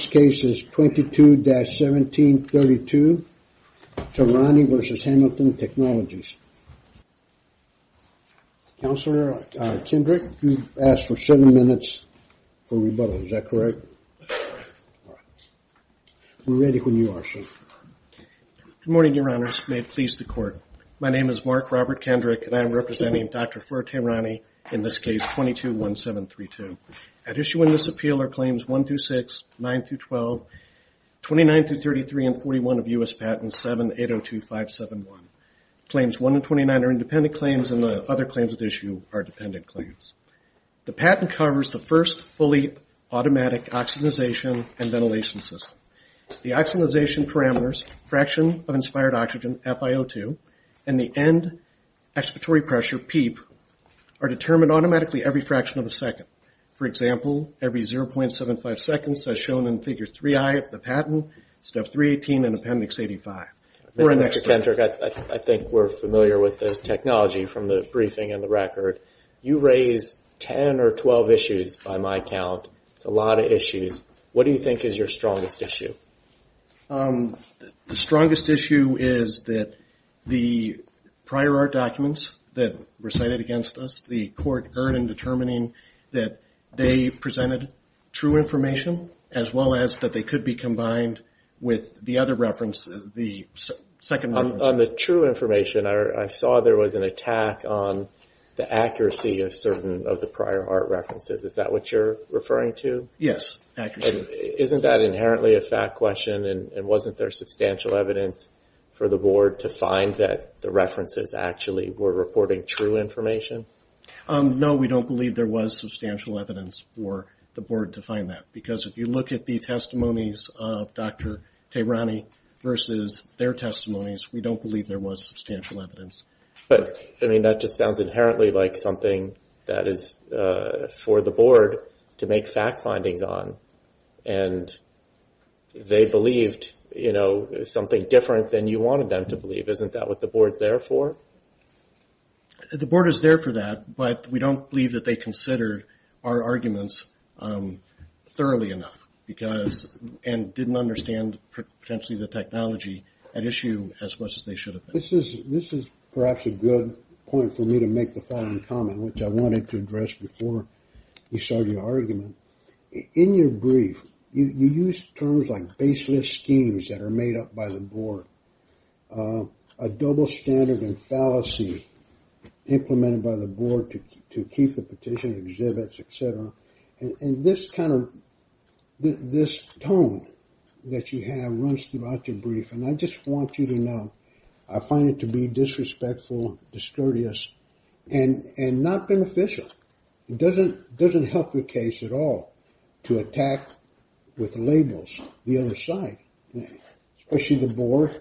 This case is 22-1732, Tehrani v. Hamilton Technologies. Counselor Kendrick, you've asked for seven minutes for rebuttal, is that correct? We're ready when you are, sir. Good morning, Your Honors. May it please the Court. My name is Mark Robert Kendrick, and I am representing Dr. Fleur Tehrani in this case 22-1732. At issue in this appeal are Claims 1-6, 9-12, 29-33, and 41 of U.S. Patents 7-802-571. Claims 1 and 29 are independent claims, and the other claims at issue are dependent claims. The patent covers the first fully automatic oxygenization and ventilation system. The oxygenization parameters, fraction of inspired oxygen, FiO2, and the end expiratory pressure, PEEP, are determined automatically every fraction of a second. For example, every 0.75 seconds as shown in Figure 3i of the patent, Step 318 in Appendix 85. Mr. Kendrick, I think we're familiar with the technology from the briefing and the record. You raised 10 or 12 issues by my count, a lot of issues. What do you think is your strongest issue? The strongest issue is that the prior art documents that were cited against us, the court earned in determining that they presented true information, as well as that they could be combined with the other reference, the second reference. On the true information, I saw there was an attack on the accuracy of certain of the prior art references. Is that what you're referring to? Yes. Isn't that inherently a fact question and wasn't there substantial evidence for the board to find that the references actually were reporting true information? No, we don't believe there was substantial evidence for the board to find that because if you look at the testimonies of Dr. Tehrani versus their testimonies, we don't believe there was substantial evidence. That just sounds inherently like something that is for the board to make fact findings on and they believed something different than you wanted them to believe. Isn't that what the board is there for? The board is there for that, but we don't believe that they considered our arguments thoroughly enough and didn't understand potentially the technology at issue as much as they should have. This is perhaps a good point for me to make the final comment, which I wanted to address before we started the argument. In your brief, you used terms like baseless schemes that are made up by the board, a double standard and fallacy implemented by the board to keep the petition exhibits, et cetera. This tone that you have runs throughout your brief and I just want you to know, I find it to be disrespectful, discourteous, and not beneficial. It doesn't help the case at all to attack with labels the other side, especially the board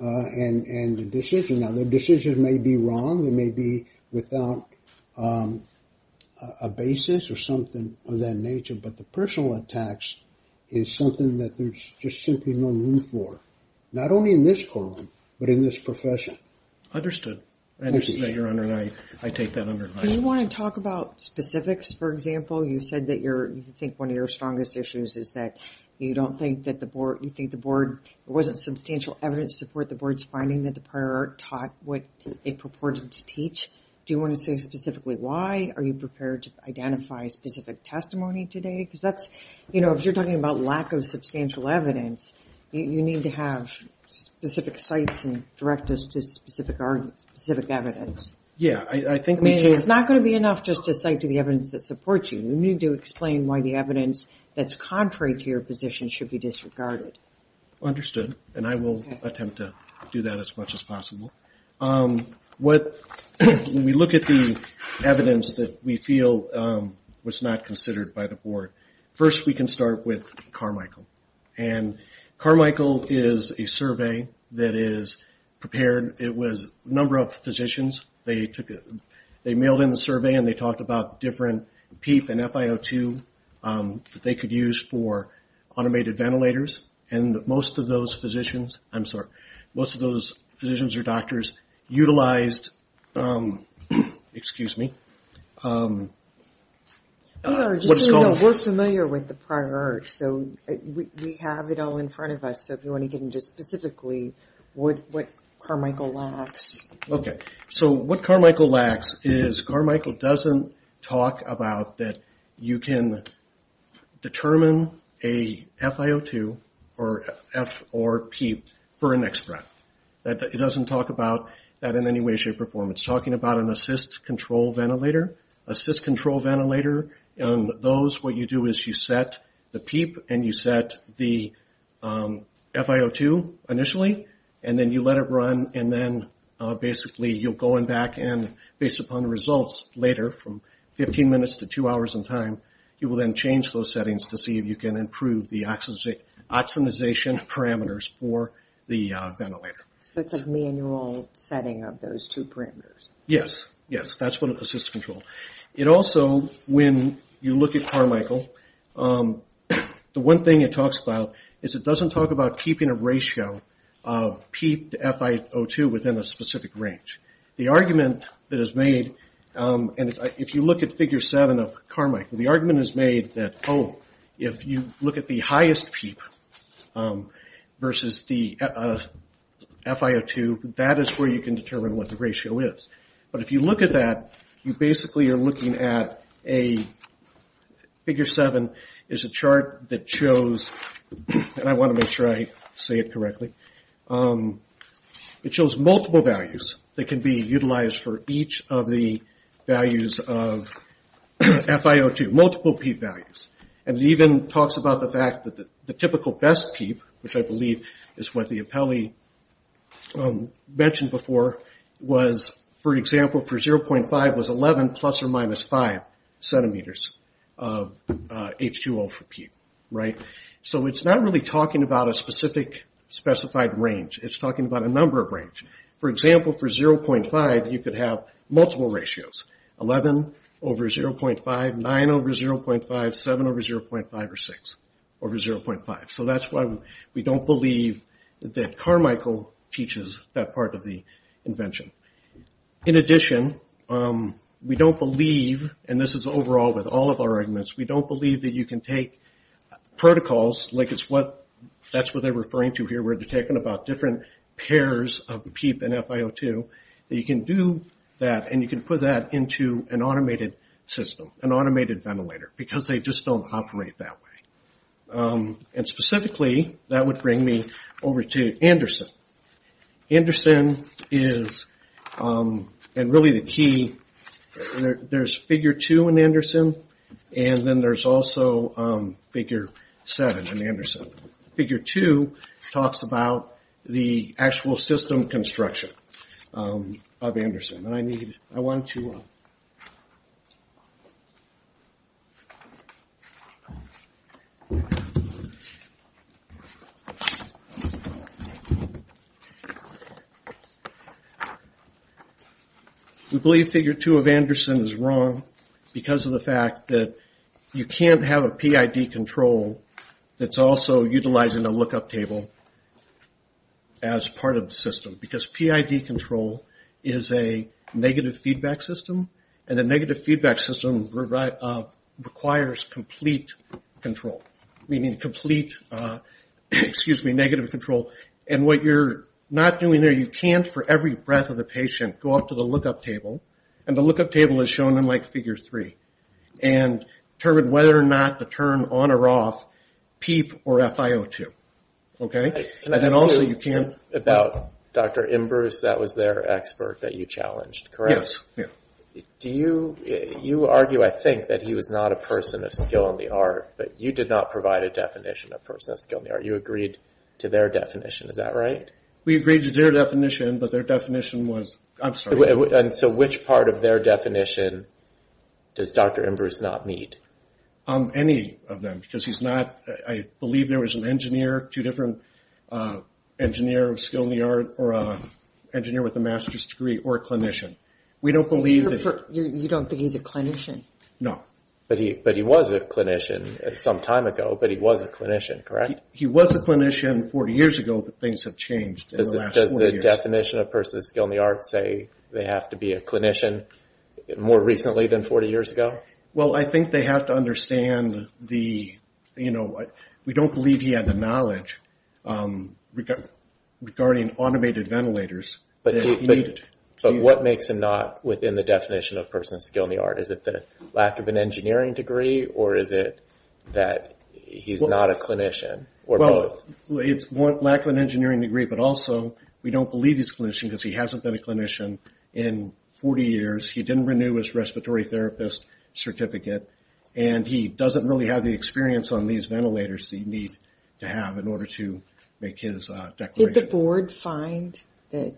and the decision. Now the decision may be wrong, it may be without a basis or something of that nature, but the personal attacks is something that there's just simply no room for, not only in this profession. Understood. Understood that you're on the line. I take that on the line. Do you want to talk about specifics, for example, you said that you think one of your strongest issues is that you don't think that the board, you think the board, it wasn't substantial evidence to support the board's finding that the prior art taught what it purported to teach. Do you want to say specifically why? Are you prepared to identify specific testimony today? Because that's, you know, if you're talking about lack of substantial evidence, you need to have specific sites and direct us to specific arguments, specific evidence. Yeah, I think. I mean, it's not going to be enough just to cite to the evidence that supports you. You need to explain why the evidence that's contrary to your position should be disregarded. Understood, and I will attempt to do that as much as possible. What, when we look at the evidence that we feel was not considered by the board, first we can start with Carmichael. And Carmichael is a survey that is prepared, it was a number of physicians, they took it, they mailed in the survey and they talked about different PEEP and FIO2 that they could use for automated ventilators, and most of those physicians, I'm sorry, most of those physicians or doctors utilized, excuse me, what is it called? No, we're familiar with the prior art, so we have it all in front of us, so if you want to get into specifically what Carmichael lacks. Okay, so what Carmichael lacks is Carmichael doesn't talk about that you can determine a FIO2 or F or P for an X breath. It doesn't talk about that in any way, shape, or form. It's talking about an assist control ventilator, assist control ventilator, and those, what you do is you set the PEEP and you set the FIO2 initially, and then you let it run, and then basically you'll go in back and based upon the results later, from 15 minutes to two hours in time, you will then change those settings to see if you can improve the oximization parameters for the ventilator. So it's a manual setting of those two parameters? Yes, yes, that's what assist control. It also, when you look at Carmichael, the one thing it talks about is it doesn't talk about keeping a ratio of PEEP to FIO2 within a specific range. The argument that is made, and if you look at figure seven of Carmichael, the argument is made that, oh, if you look at the highest PEEP versus the FIO2, that is where you can determine what the ratio is. But if you look at that, you basically are looking at a, figure seven is a chart that shows, and I want to make sure I say it correctly, it shows multiple values that can be utilized for each of the values of FIO2, multiple PEEP values. And it even talks about the fact that the typical best PEEP, which I believe is what the appellee mentioned before, was, for example, for 0.5 was 11 plus or minus 5 centimeters of H2O for PEEP. So it's not really talking about a specific, specified range. It's talking about a number of range. For example, for 0.5, you could have multiple ratios, 11 over 0.5, 9 over 0.5, 7 over 0.5, or 6 over 0.5. So that's why we don't believe that Carmichael teaches that part of the invention. In addition, we don't believe, and this is overall with all of our arguments, we don't believe that you can take protocols, like it's what, that's what they're referring to here, where they're talking about different pairs of the PEEP and FIO2, that you can do that and you can put that into an automated system, an automated ventilator, because they just don't operate that way. And specifically, that would bring me over to Anderson. Anderson is, and really the key, there's figure two in Anderson, and then there's also figure seven in Anderson. Figure two talks about the actual system construction of Anderson, and I need, I want you to... We believe figure two of Anderson is wrong because of the fact that you can't have a system utilizing a lookup table as part of the system, because PID control is a negative feedback system, and a negative feedback system requires complete control, meaning complete, excuse me, negative control. And what you're not doing there, you can't for every breath of the patient go up to the lookup table, and the lookup table is shown in like figure three, and determine whether or not to turn on or off PEEP or FIO2, okay? And also you can't... Can I ask you about Dr. Imbrus, that was their expert that you challenged, correct? Yes, yes. You argue, I think, that he was not a person of skill in the art, but you did not provide a definition of a person of skill in the art, you agreed to their definition, is that right? We agreed to their definition, but their definition was, I'm sorry. And so which part of their definition does Dr. Imbrus not meet? Any of them, because he's not, I believe there was an engineer, two different, an engineer of skill in the art, or an engineer with a master's degree, or a clinician. We don't believe... You don't think he's a clinician? No. But he was a clinician some time ago, but he was a clinician, correct? He was a clinician 40 years ago, but things have changed in the last 40 years. Does the definition of a person of skill in the art say they have to be a clinician more recently than 40 years ago? Well, I think they have to understand the... We don't believe he had the knowledge regarding automated ventilators that he needed. But what makes him not within the definition of a person of skill in the art? Is it the lack of an engineering degree, or is it that he's not a clinician, or both? Well, it's lack of an engineering degree, but also we don't believe he's a clinician because he hasn't been a clinician in 40 years. He didn't renew his respiratory therapist certificate, and he doesn't really have the experience on these ventilators that he'd need to have in order to make his declaration. Did the board find that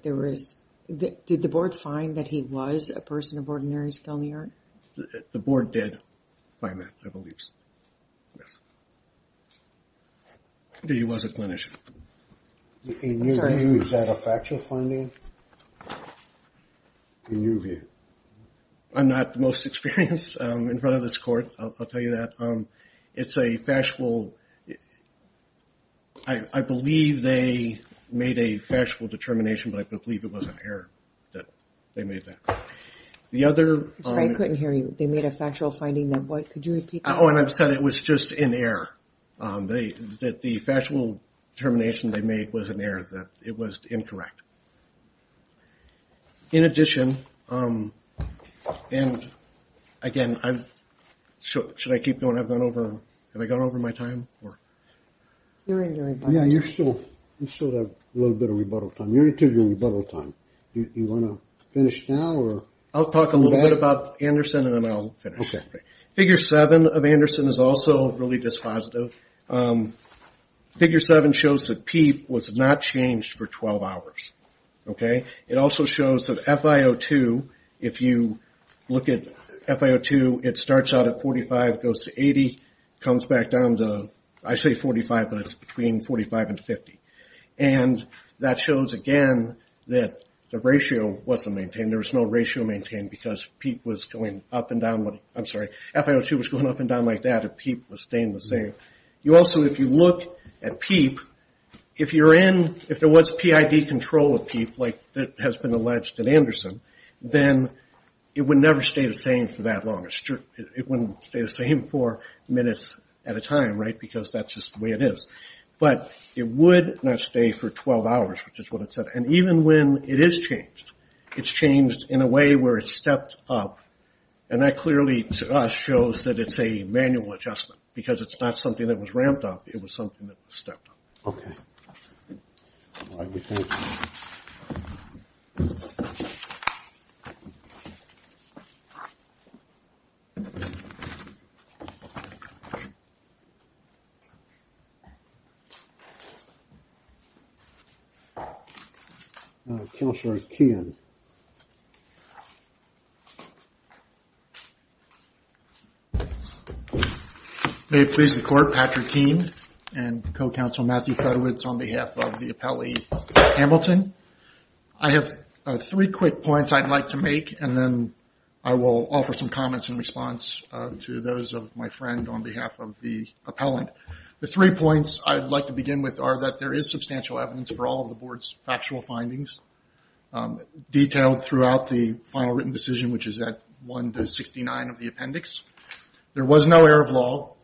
he was a person of ordinary skill in the art? The board did find that, I believe so, yes. He was a clinician. Sorry. In your view, is that a factual finding? In your view? I'm not the most experienced in front of this court, I'll tell you that. It's a factual... I believe they made a factual determination, but I believe it was an error that they made that. If I couldn't hear you, they made a factual finding, then could you repeat that? Oh, and I've said it was just an error, that the factual determination they made was an error, that it was incorrect. In addition, and again, should I keep going? I've gone over... Have I gone over my time? Yeah, you still have a little bit of rebuttal time. You're into your rebuttal time. Do you want to finish now, or... I'll talk a little bit about Anderson, and then I'll finish. Okay. Figure 7 of Anderson is also really dispositive. Figure 7 shows that PEEP was not changed for 12 hours. It also shows that FIO2, if you look at FIO2, it starts out at 45, goes to 80, comes back down to... I say 45, but it's between 45 and 50. That shows, again, that the ratio wasn't maintained. There was no ratio maintained, because PEEP was going up and down... I'm sorry. FIO2 was going up and down like that, and PEEP was staying the same. Also, if you look at PEEP, if there was PID control of PEEP, like that has been alleged in Anderson, then it would never stay the same for that long. It wouldn't stay the same four minutes at a time, right? Because that's just the way it is. But it would not stay for 12 hours, which is what it said. And even when it is changed, it's changed in a way where it's stepped up. And that clearly, to us, shows that it's a manual adjustment, because it's not something that was ramped up. It was something that was stepped up. Okay. Thank you. Now, Counselor Keehan. May it please the Court, Patrick Keene and Co-Counsel Matthew Fedowitz on behalf of the appellee, Hamilton. I have three quick points I'd like to make, and then I will offer some comments in response to those of my friend on behalf of the appellant. The three points I'd like to begin with are that there is substantial evidence for all of the Board's factual findings, detailed throughout the final written decision, which is at 1-69 of the appendix. There was no error of law.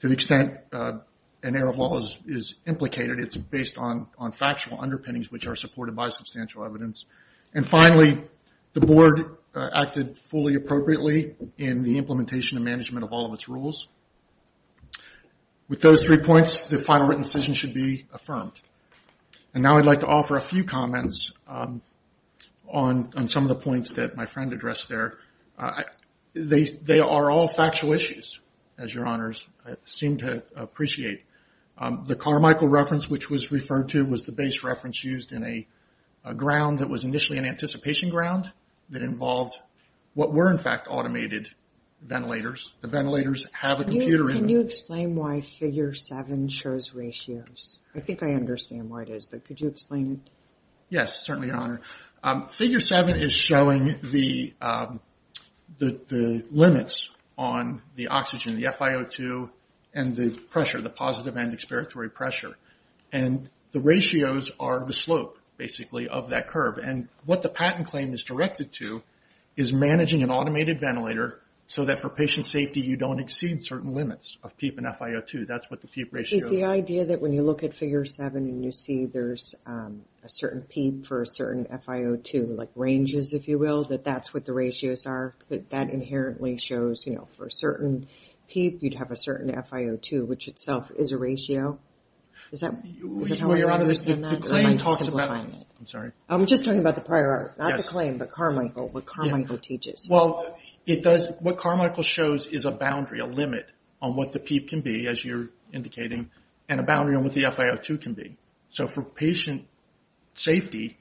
To the extent an error of law is implicated, it's based on factual underpinnings, which are supported by substantial evidence. And finally, the Board acted fully appropriately in the implementation and management of all of its rules. With those three points, the final written decision should be affirmed. And now I'd like to offer a few comments on some of the points that my friend addressed there. They are all factual issues, as Your Honors seem to appreciate. The Carmichael reference, which was referred to, was the base reference used in a ground that was initially an anticipation ground that involved what were, in fact, automated ventilators. The ventilators have a computer in them. Can you explain why Figure 7 shows ratios? I think I understand why it is, but could you explain it? Yes, certainly, Your Honor. Figure 7 is showing the limits on the oxygen, the FiO2, and the pressure, the positive end expiratory pressure. And the ratios are the slope, basically, of that curve. And what the patent claim is directed to is managing an automated ventilator so that for patient safety you don't exceed certain limits of PEEP and FiO2. That's what the PEEP ratio is. Is the idea that when you look at Figure 7 and you see there's a certain PEEP for a certain FiO2, like ranges, if you will, that that's what the ratios are? That that inherently shows, you know, for a certain PEEP you'd have a certain FiO2, which itself is a ratio? Is that how you understand that, or am I simplifying it? I'm sorry. I'm just talking about the prior art, not the claim, but Carmichael, what Carmichael teaches. Well, what Carmichael shows is a boundary, a limit, on what the PEEP can be, as you're indicating, and a boundary on what the FiO2 can be. So for patient safety,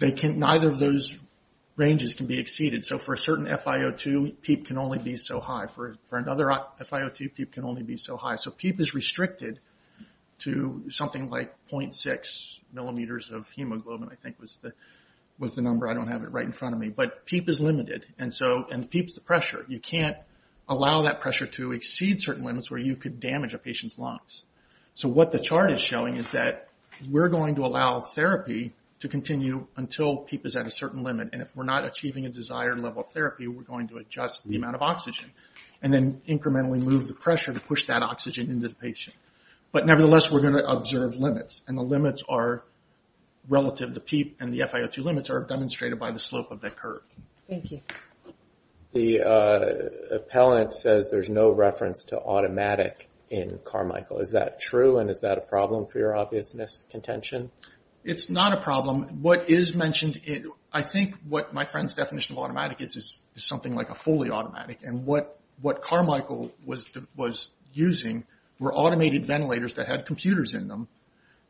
neither of those ranges can be exceeded. So for a certain FiO2, PEEP can only be so high. For another FiO2, PEEP can only be so high. So PEEP is restricted to something like 0.6 millimeters of hemoglobin, I think was the number. I don't have it right in front of me. But PEEP is limited, and PEEP is the pressure. You can't allow that pressure to exceed certain limits where you could damage a patient's lungs. So what the chart is showing is that we're going to allow therapy to continue until PEEP is at a certain limit, and if we're not achieving a desired level of therapy, we're going to adjust the amount of oxygen and then incrementally move the pressure to push that oxygen into the patient. But nevertheless, we're going to observe limits, and the limits are relative to PEEP, and the FiO2 limits are demonstrated by the slope of that curve. Thank you. The appellant says there's no reference to automatic in Carmichael. Is that true, and is that a problem for your obvious miscontention? It's not a problem. What is mentioned, I think what my friend's definition of automatic is, is something like a fully automatic. And what Carmichael was using were automated ventilators that had computers in them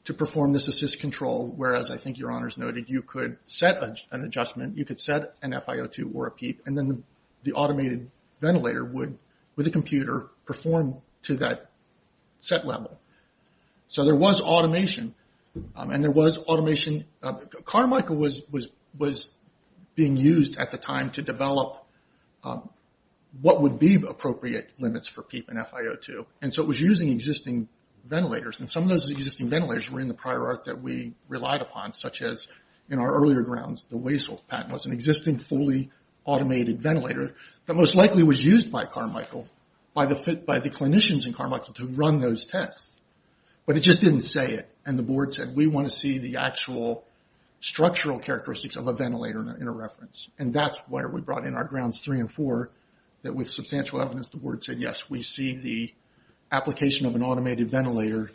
to perform this assist control, whereas I think Your Honors noted you could set an adjustment, you could set an FiO2 or a PEEP, and then the automated ventilator would, with a computer, perform to that set level. So there was automation, and there was automation. Carmichael was being used at the time to develop what would be appropriate limits for PEEP and FiO2. And so it was using existing ventilators, and some of those existing ventilators were in the prior arc that we relied upon, such as in our earlier grounds, the Weissel patent was an existing fully automated ventilator that most likely was used by Carmichael, by the clinicians in Carmichael, to run those tests. But it just didn't say it, and the board said, we want to see the actual structural characteristics of a ventilator in a reference. And that's where we brought in our grounds three and four, that with substantial evidence the board said, yes, we see the application of an automated ventilator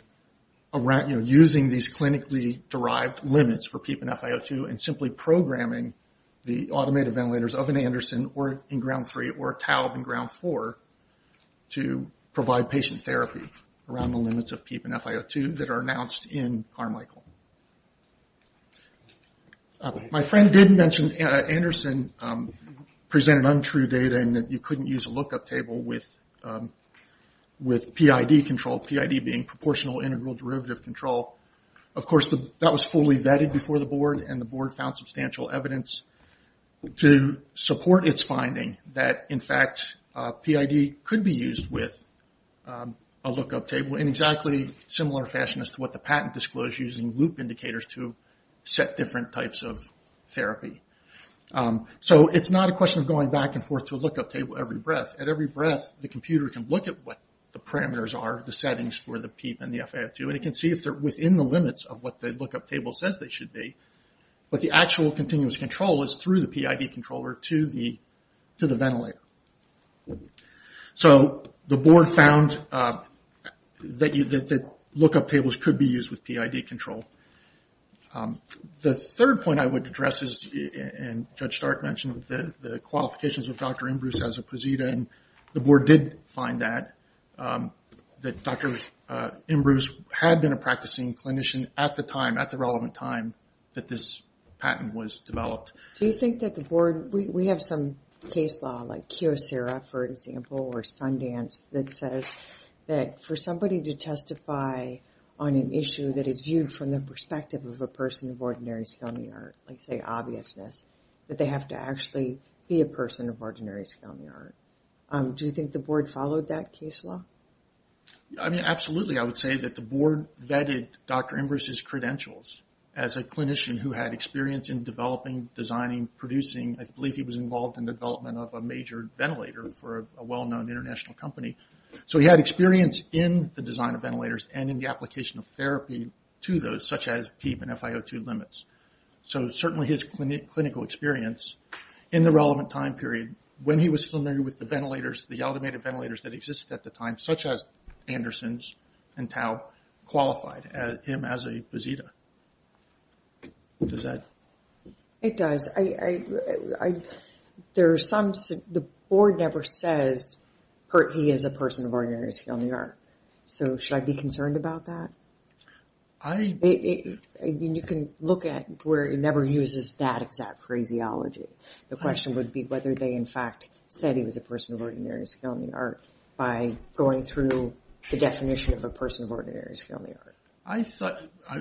using these clinically derived limits for PEEP and FiO2 and simply programming the automated ground three or ground four to provide patient therapy around the limits of PEEP and FiO2 that are announced in Carmichael. My friend did mention, Anderson presented untrue data in that you couldn't use a lookup table with PID control, PID being proportional integral derivative control. And the board found substantial evidence to support its finding that, in fact, PID could be used with a lookup table in exactly similar fashion as to what the patent disclosed using loop indicators to set different types of therapy. So it's not a question of going back and forth to a lookup table every breath. At every breath the computer can look at what the parameters are, the settings for the PEEP and the FiO2, and it can see if they're within the limits of what the lookup table says they should be. But the actual continuous control is through the PID controller to the ventilator. So the board found that lookup tables could be used with PID control. The third point I would address is, and Judge Stark mentioned, the qualifications of Dr. Imbrus as a POSITA, and the board did find that, that Dr. Imbrus had been a practicing clinician at the time, at the relevant time that this patent was developed. Do you think that the board, we have some case law like Keosera, for example, or Sundance that says that for somebody to testify on an issue that is viewed from the perspective of a person of ordinary skill in the art, like say obviousness, that they have to actually be a person of ordinary skill in the art. Do you think the board followed that case law? I mean, absolutely. I would say that the board vetted Dr. Imbrus' credentials as a clinician who had experience in developing, designing, producing. I believe he was involved in the development of a major ventilator for a well-known international company. So he had experience in the design of ventilators and in the application of therapy to those, such as PEEP and FiO2 limits. So certainly his clinical experience in the relevant time period, when he was familiar with the ventilators, the automated ventilators that existed at the time, such as Andersons and Tao, qualified him as a basita. Does that? It does. There are some, the board never says he is a person of ordinary skill in the art. So should I be concerned about that? You can look at where it never uses that exact phraseology. The question would be whether they, in fact, said he was a person of ordinary skill in the art by going through the definition of a person of ordinary skill in the art.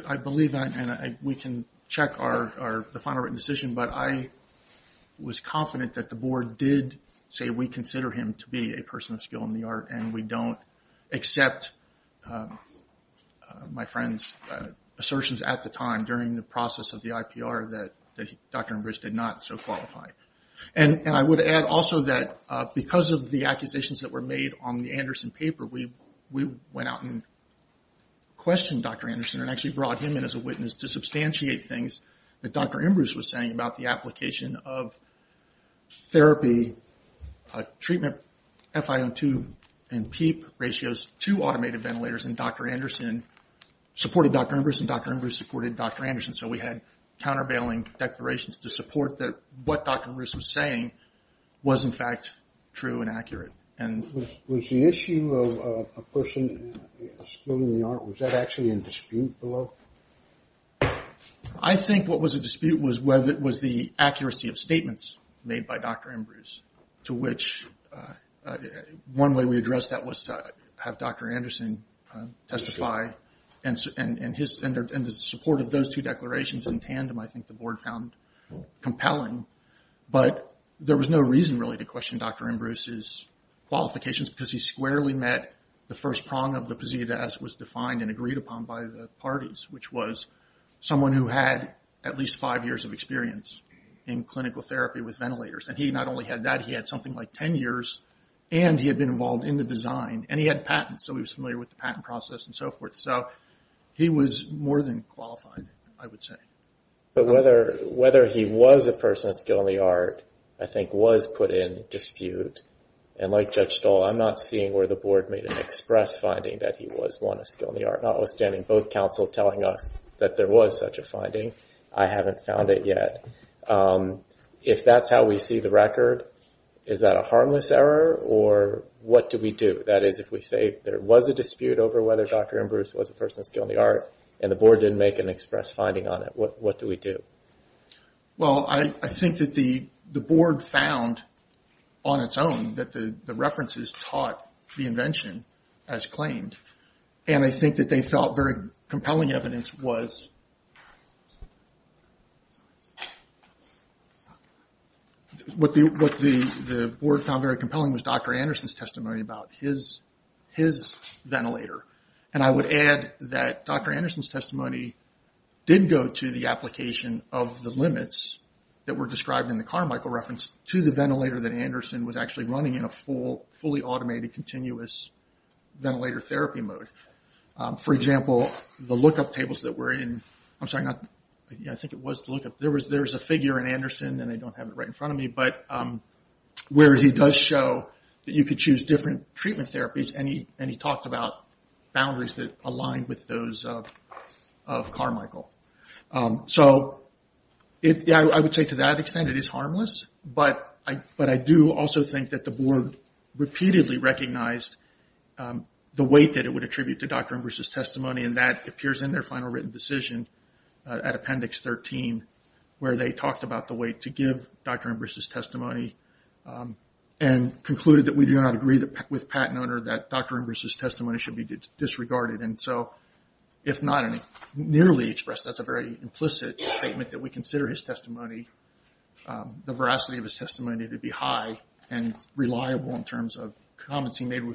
I believe that, and we can check the final written decision, but I was confident that the board did say we consider him to be a person of ordinary skill in the art. And I would add also that because of the accusations that were made on the Anderson paper, we went out and questioned Dr. Anderson and actually brought him in as a witness to substantiate things that Dr. Embruce was saying about the application of therapy, treatment FiO2 and PEEP ratios to automated ventilators. And Dr. Anderson supported Dr. Embruce and Dr. Embruce supported Dr. Anderson. So we had countervailing declarations to support that what Dr. Embruce was saying was in fact true and accurate. Was the issue of a person of skill in the art, was that actually a dispute below? I think what was a dispute was whether it was the accuracy of statements made by Dr. Embruce to which one way we addressed that was to have Dr. Anderson testify and the support of those two declarations in tandem I think the board found compelling. But there was no reason really to question Dr. Embruce's qualifications because he squarely met the first prong of the posit as was defined and agreed upon by the parties, which was someone who had at least five years of experience in clinical therapy with ventilators. And he not only had that, he had something like 10 years and he had been involved in the design and he had patents. So he was familiar with the patent process and so forth. So he was more than qualified, I would say. But whether he was a person of skill in the art, I think was put in dispute. And like Judge Stoll, I'm not seeing where the board made an express finding that he was one of skill in the art, notwithstanding both counsel telling us that there was such a finding. I haven't found it yet. If that's how we see the record, is that a harmless error or what do we do? That is, if we say there was a dispute over whether Dr. Embruce was a person of skill in the art and the board didn't make an express finding on it, what do we do? Well, I think that the board found on its own that the references taught the invention as claimed. And I think that they felt very compelling evidence was what the board found very compelling was Dr. Anderson's testimony about his ventilator. And I would add that Dr. Anderson's testimony did go to the application of the limits that were described in the Carmichael reference to the ventilator that Anderson was actually running in a full, fully automated continuous ventilator therapy mode. For example, the lookup tables that were in, I'm sorry, I think it was the lookup. There was a figure in Anderson and I don't have it right in front of me, but where he does show that you could choose different treatment therapies and he talked about boundaries that aligned with those of Carmichael. So I would say to that extent it is harmless, but I do also think that the board repeatedly recognized the weight that it would attribute to Dr. Embrist's unwritten decision at Appendix 13 where they talked about the weight to give Dr. Embrist's testimony and concluded that we do not agree with Pat and owner that Dr. Embrist's testimony should be disregarded. And so if not nearly expressed, that's a very implicit statement that we consider his testimony, the veracity of his testimony to be high and reliable in terms of comments he made and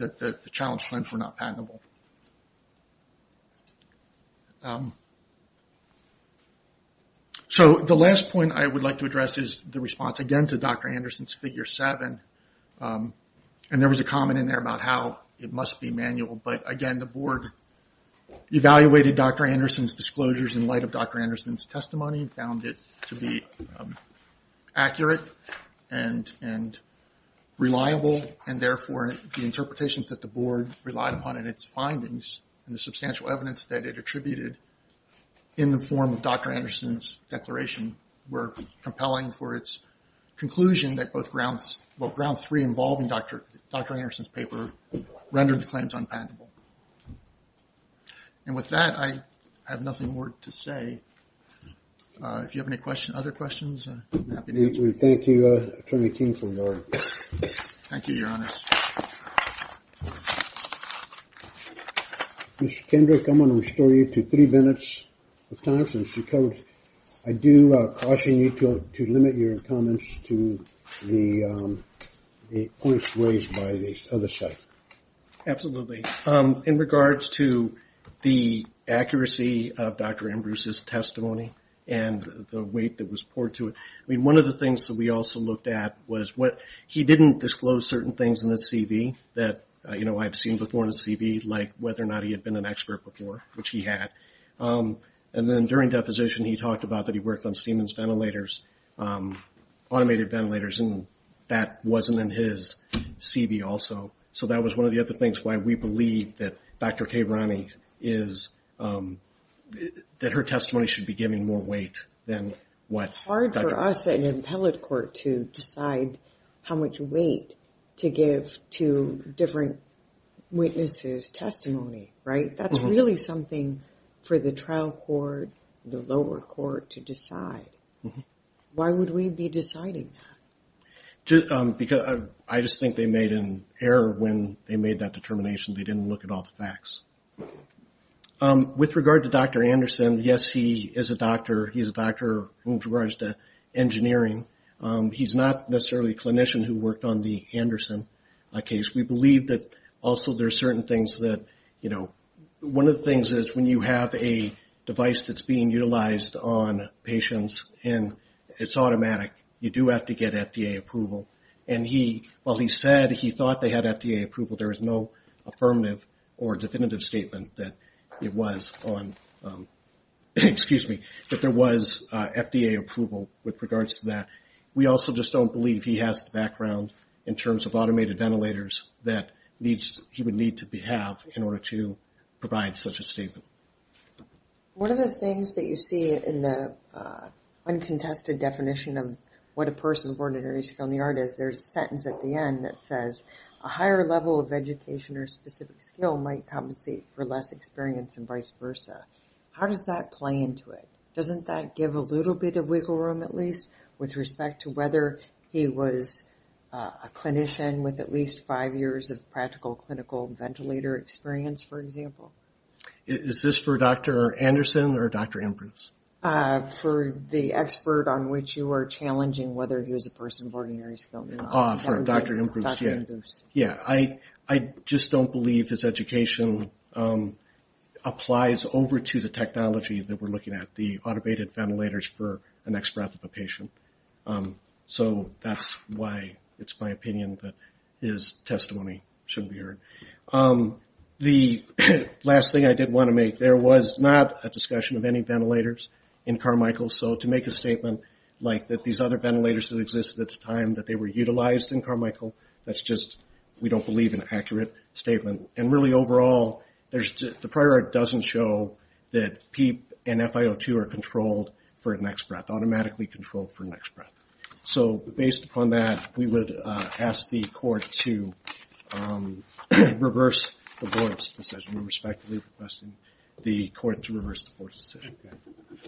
that the challenge plans were not patentable. So the last point I would like to address is the response again to Dr. Anderson's figure seven. And there was a comment in there about how it must be manual. But again, the board evaluated Dr. Anderson's disclosures in light of Dr. Anderson's testimony and found it to be accurate and reliable, and therefore the interpretations that the board relied upon in its findings and the substantial evidence that it attributed in the form of Dr. Anderson's declaration were compelling for its conclusion that both grounds, well, grounds three involving Dr. Dr. Anderson's paper rendered the claims unpatentable. And with that, I have nothing more to say. If you have any questions, other questions. Thank you. Thank you, Your Honor. Mr. Kendrick, I'm going to restore you to three minutes of time since you covered. I do caution you to limit your comments to the points raised by the other side. Absolutely. In regards to the accuracy of Dr. Ambrose's testimony and the weight that was poured to it, I mean, one of the things that we also looked at was what he didn't disclose certain things in his CV that, you know, I've seen before in his CV, like whether or not he had been an expert before, which he had. And then during deposition, he talked about that he worked on Siemens ventilators, automated ventilators, and that wasn't in his CV also. So that was one of the other things why we believe that Dr. Kay Ronnie is, that her testimony should be giving more weight than what Dr. Ambrose had. It's not for us at an appellate court to decide how much weight to give to different witnesses' testimony, right? That's really something for the trial court, the lower court to decide. Why would we be deciding that? I just think they made an error when they made that determination. They didn't look at all the facts. With regard to Dr. Anderson, yes, he is a doctor. With regards to engineering, he's not necessarily a clinician who worked on the Anderson case. We believe that also there are certain things that, you know, one of the things is when you have a device that's being utilized on patients and it's automatic, you do have to get FDA approval. And he, while he said he thought they had FDA approval, there was no affirmative or definitive statement that it was on, excuse me, that there was FDA approval with regards to that. We also just don't believe he has the background in terms of automated ventilators that he would need to have in order to provide such a statement. One of the things that you see in the uncontested definition of what a person born with an early skill in the art is, there's a sentence at the end that says, a higher level of education or specific skill might compensate for less experience and vice versa. How does that play into it? Doesn't that give a little bit of wiggle room, at least with respect to whether he was a clinician with at least five years of practical clinical ventilator experience, for example? Is this for Dr. Anderson or Dr. Ambrose? For the expert on which you are challenging whether he was a person born with an early skill. For Dr. Ambrose, yeah. I just don't believe his education applies over to the technology that we're looking at, the automated ventilators for the next breath of a patient. So that's why it's my opinion that his testimony should be heard. The last thing I did want to make, there was not a discussion of any ventilators in Carmichael. So to make a statement like that these other ventilators that existed at the time that they were utilized in Carmichael, that's just we don't believe an accurate statement. And really overall, the prior art doesn't show that PEEP and FIO2 are controlled for the next breath, automatically controlled for the next breath. So based upon that, we would ask the court to reverse the board's decision. We respectfully request the court to reverse the board's decision.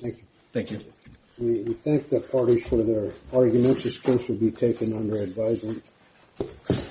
Thank you. Thank you. We thank the parties for their arguments. This case will be taken under advisement.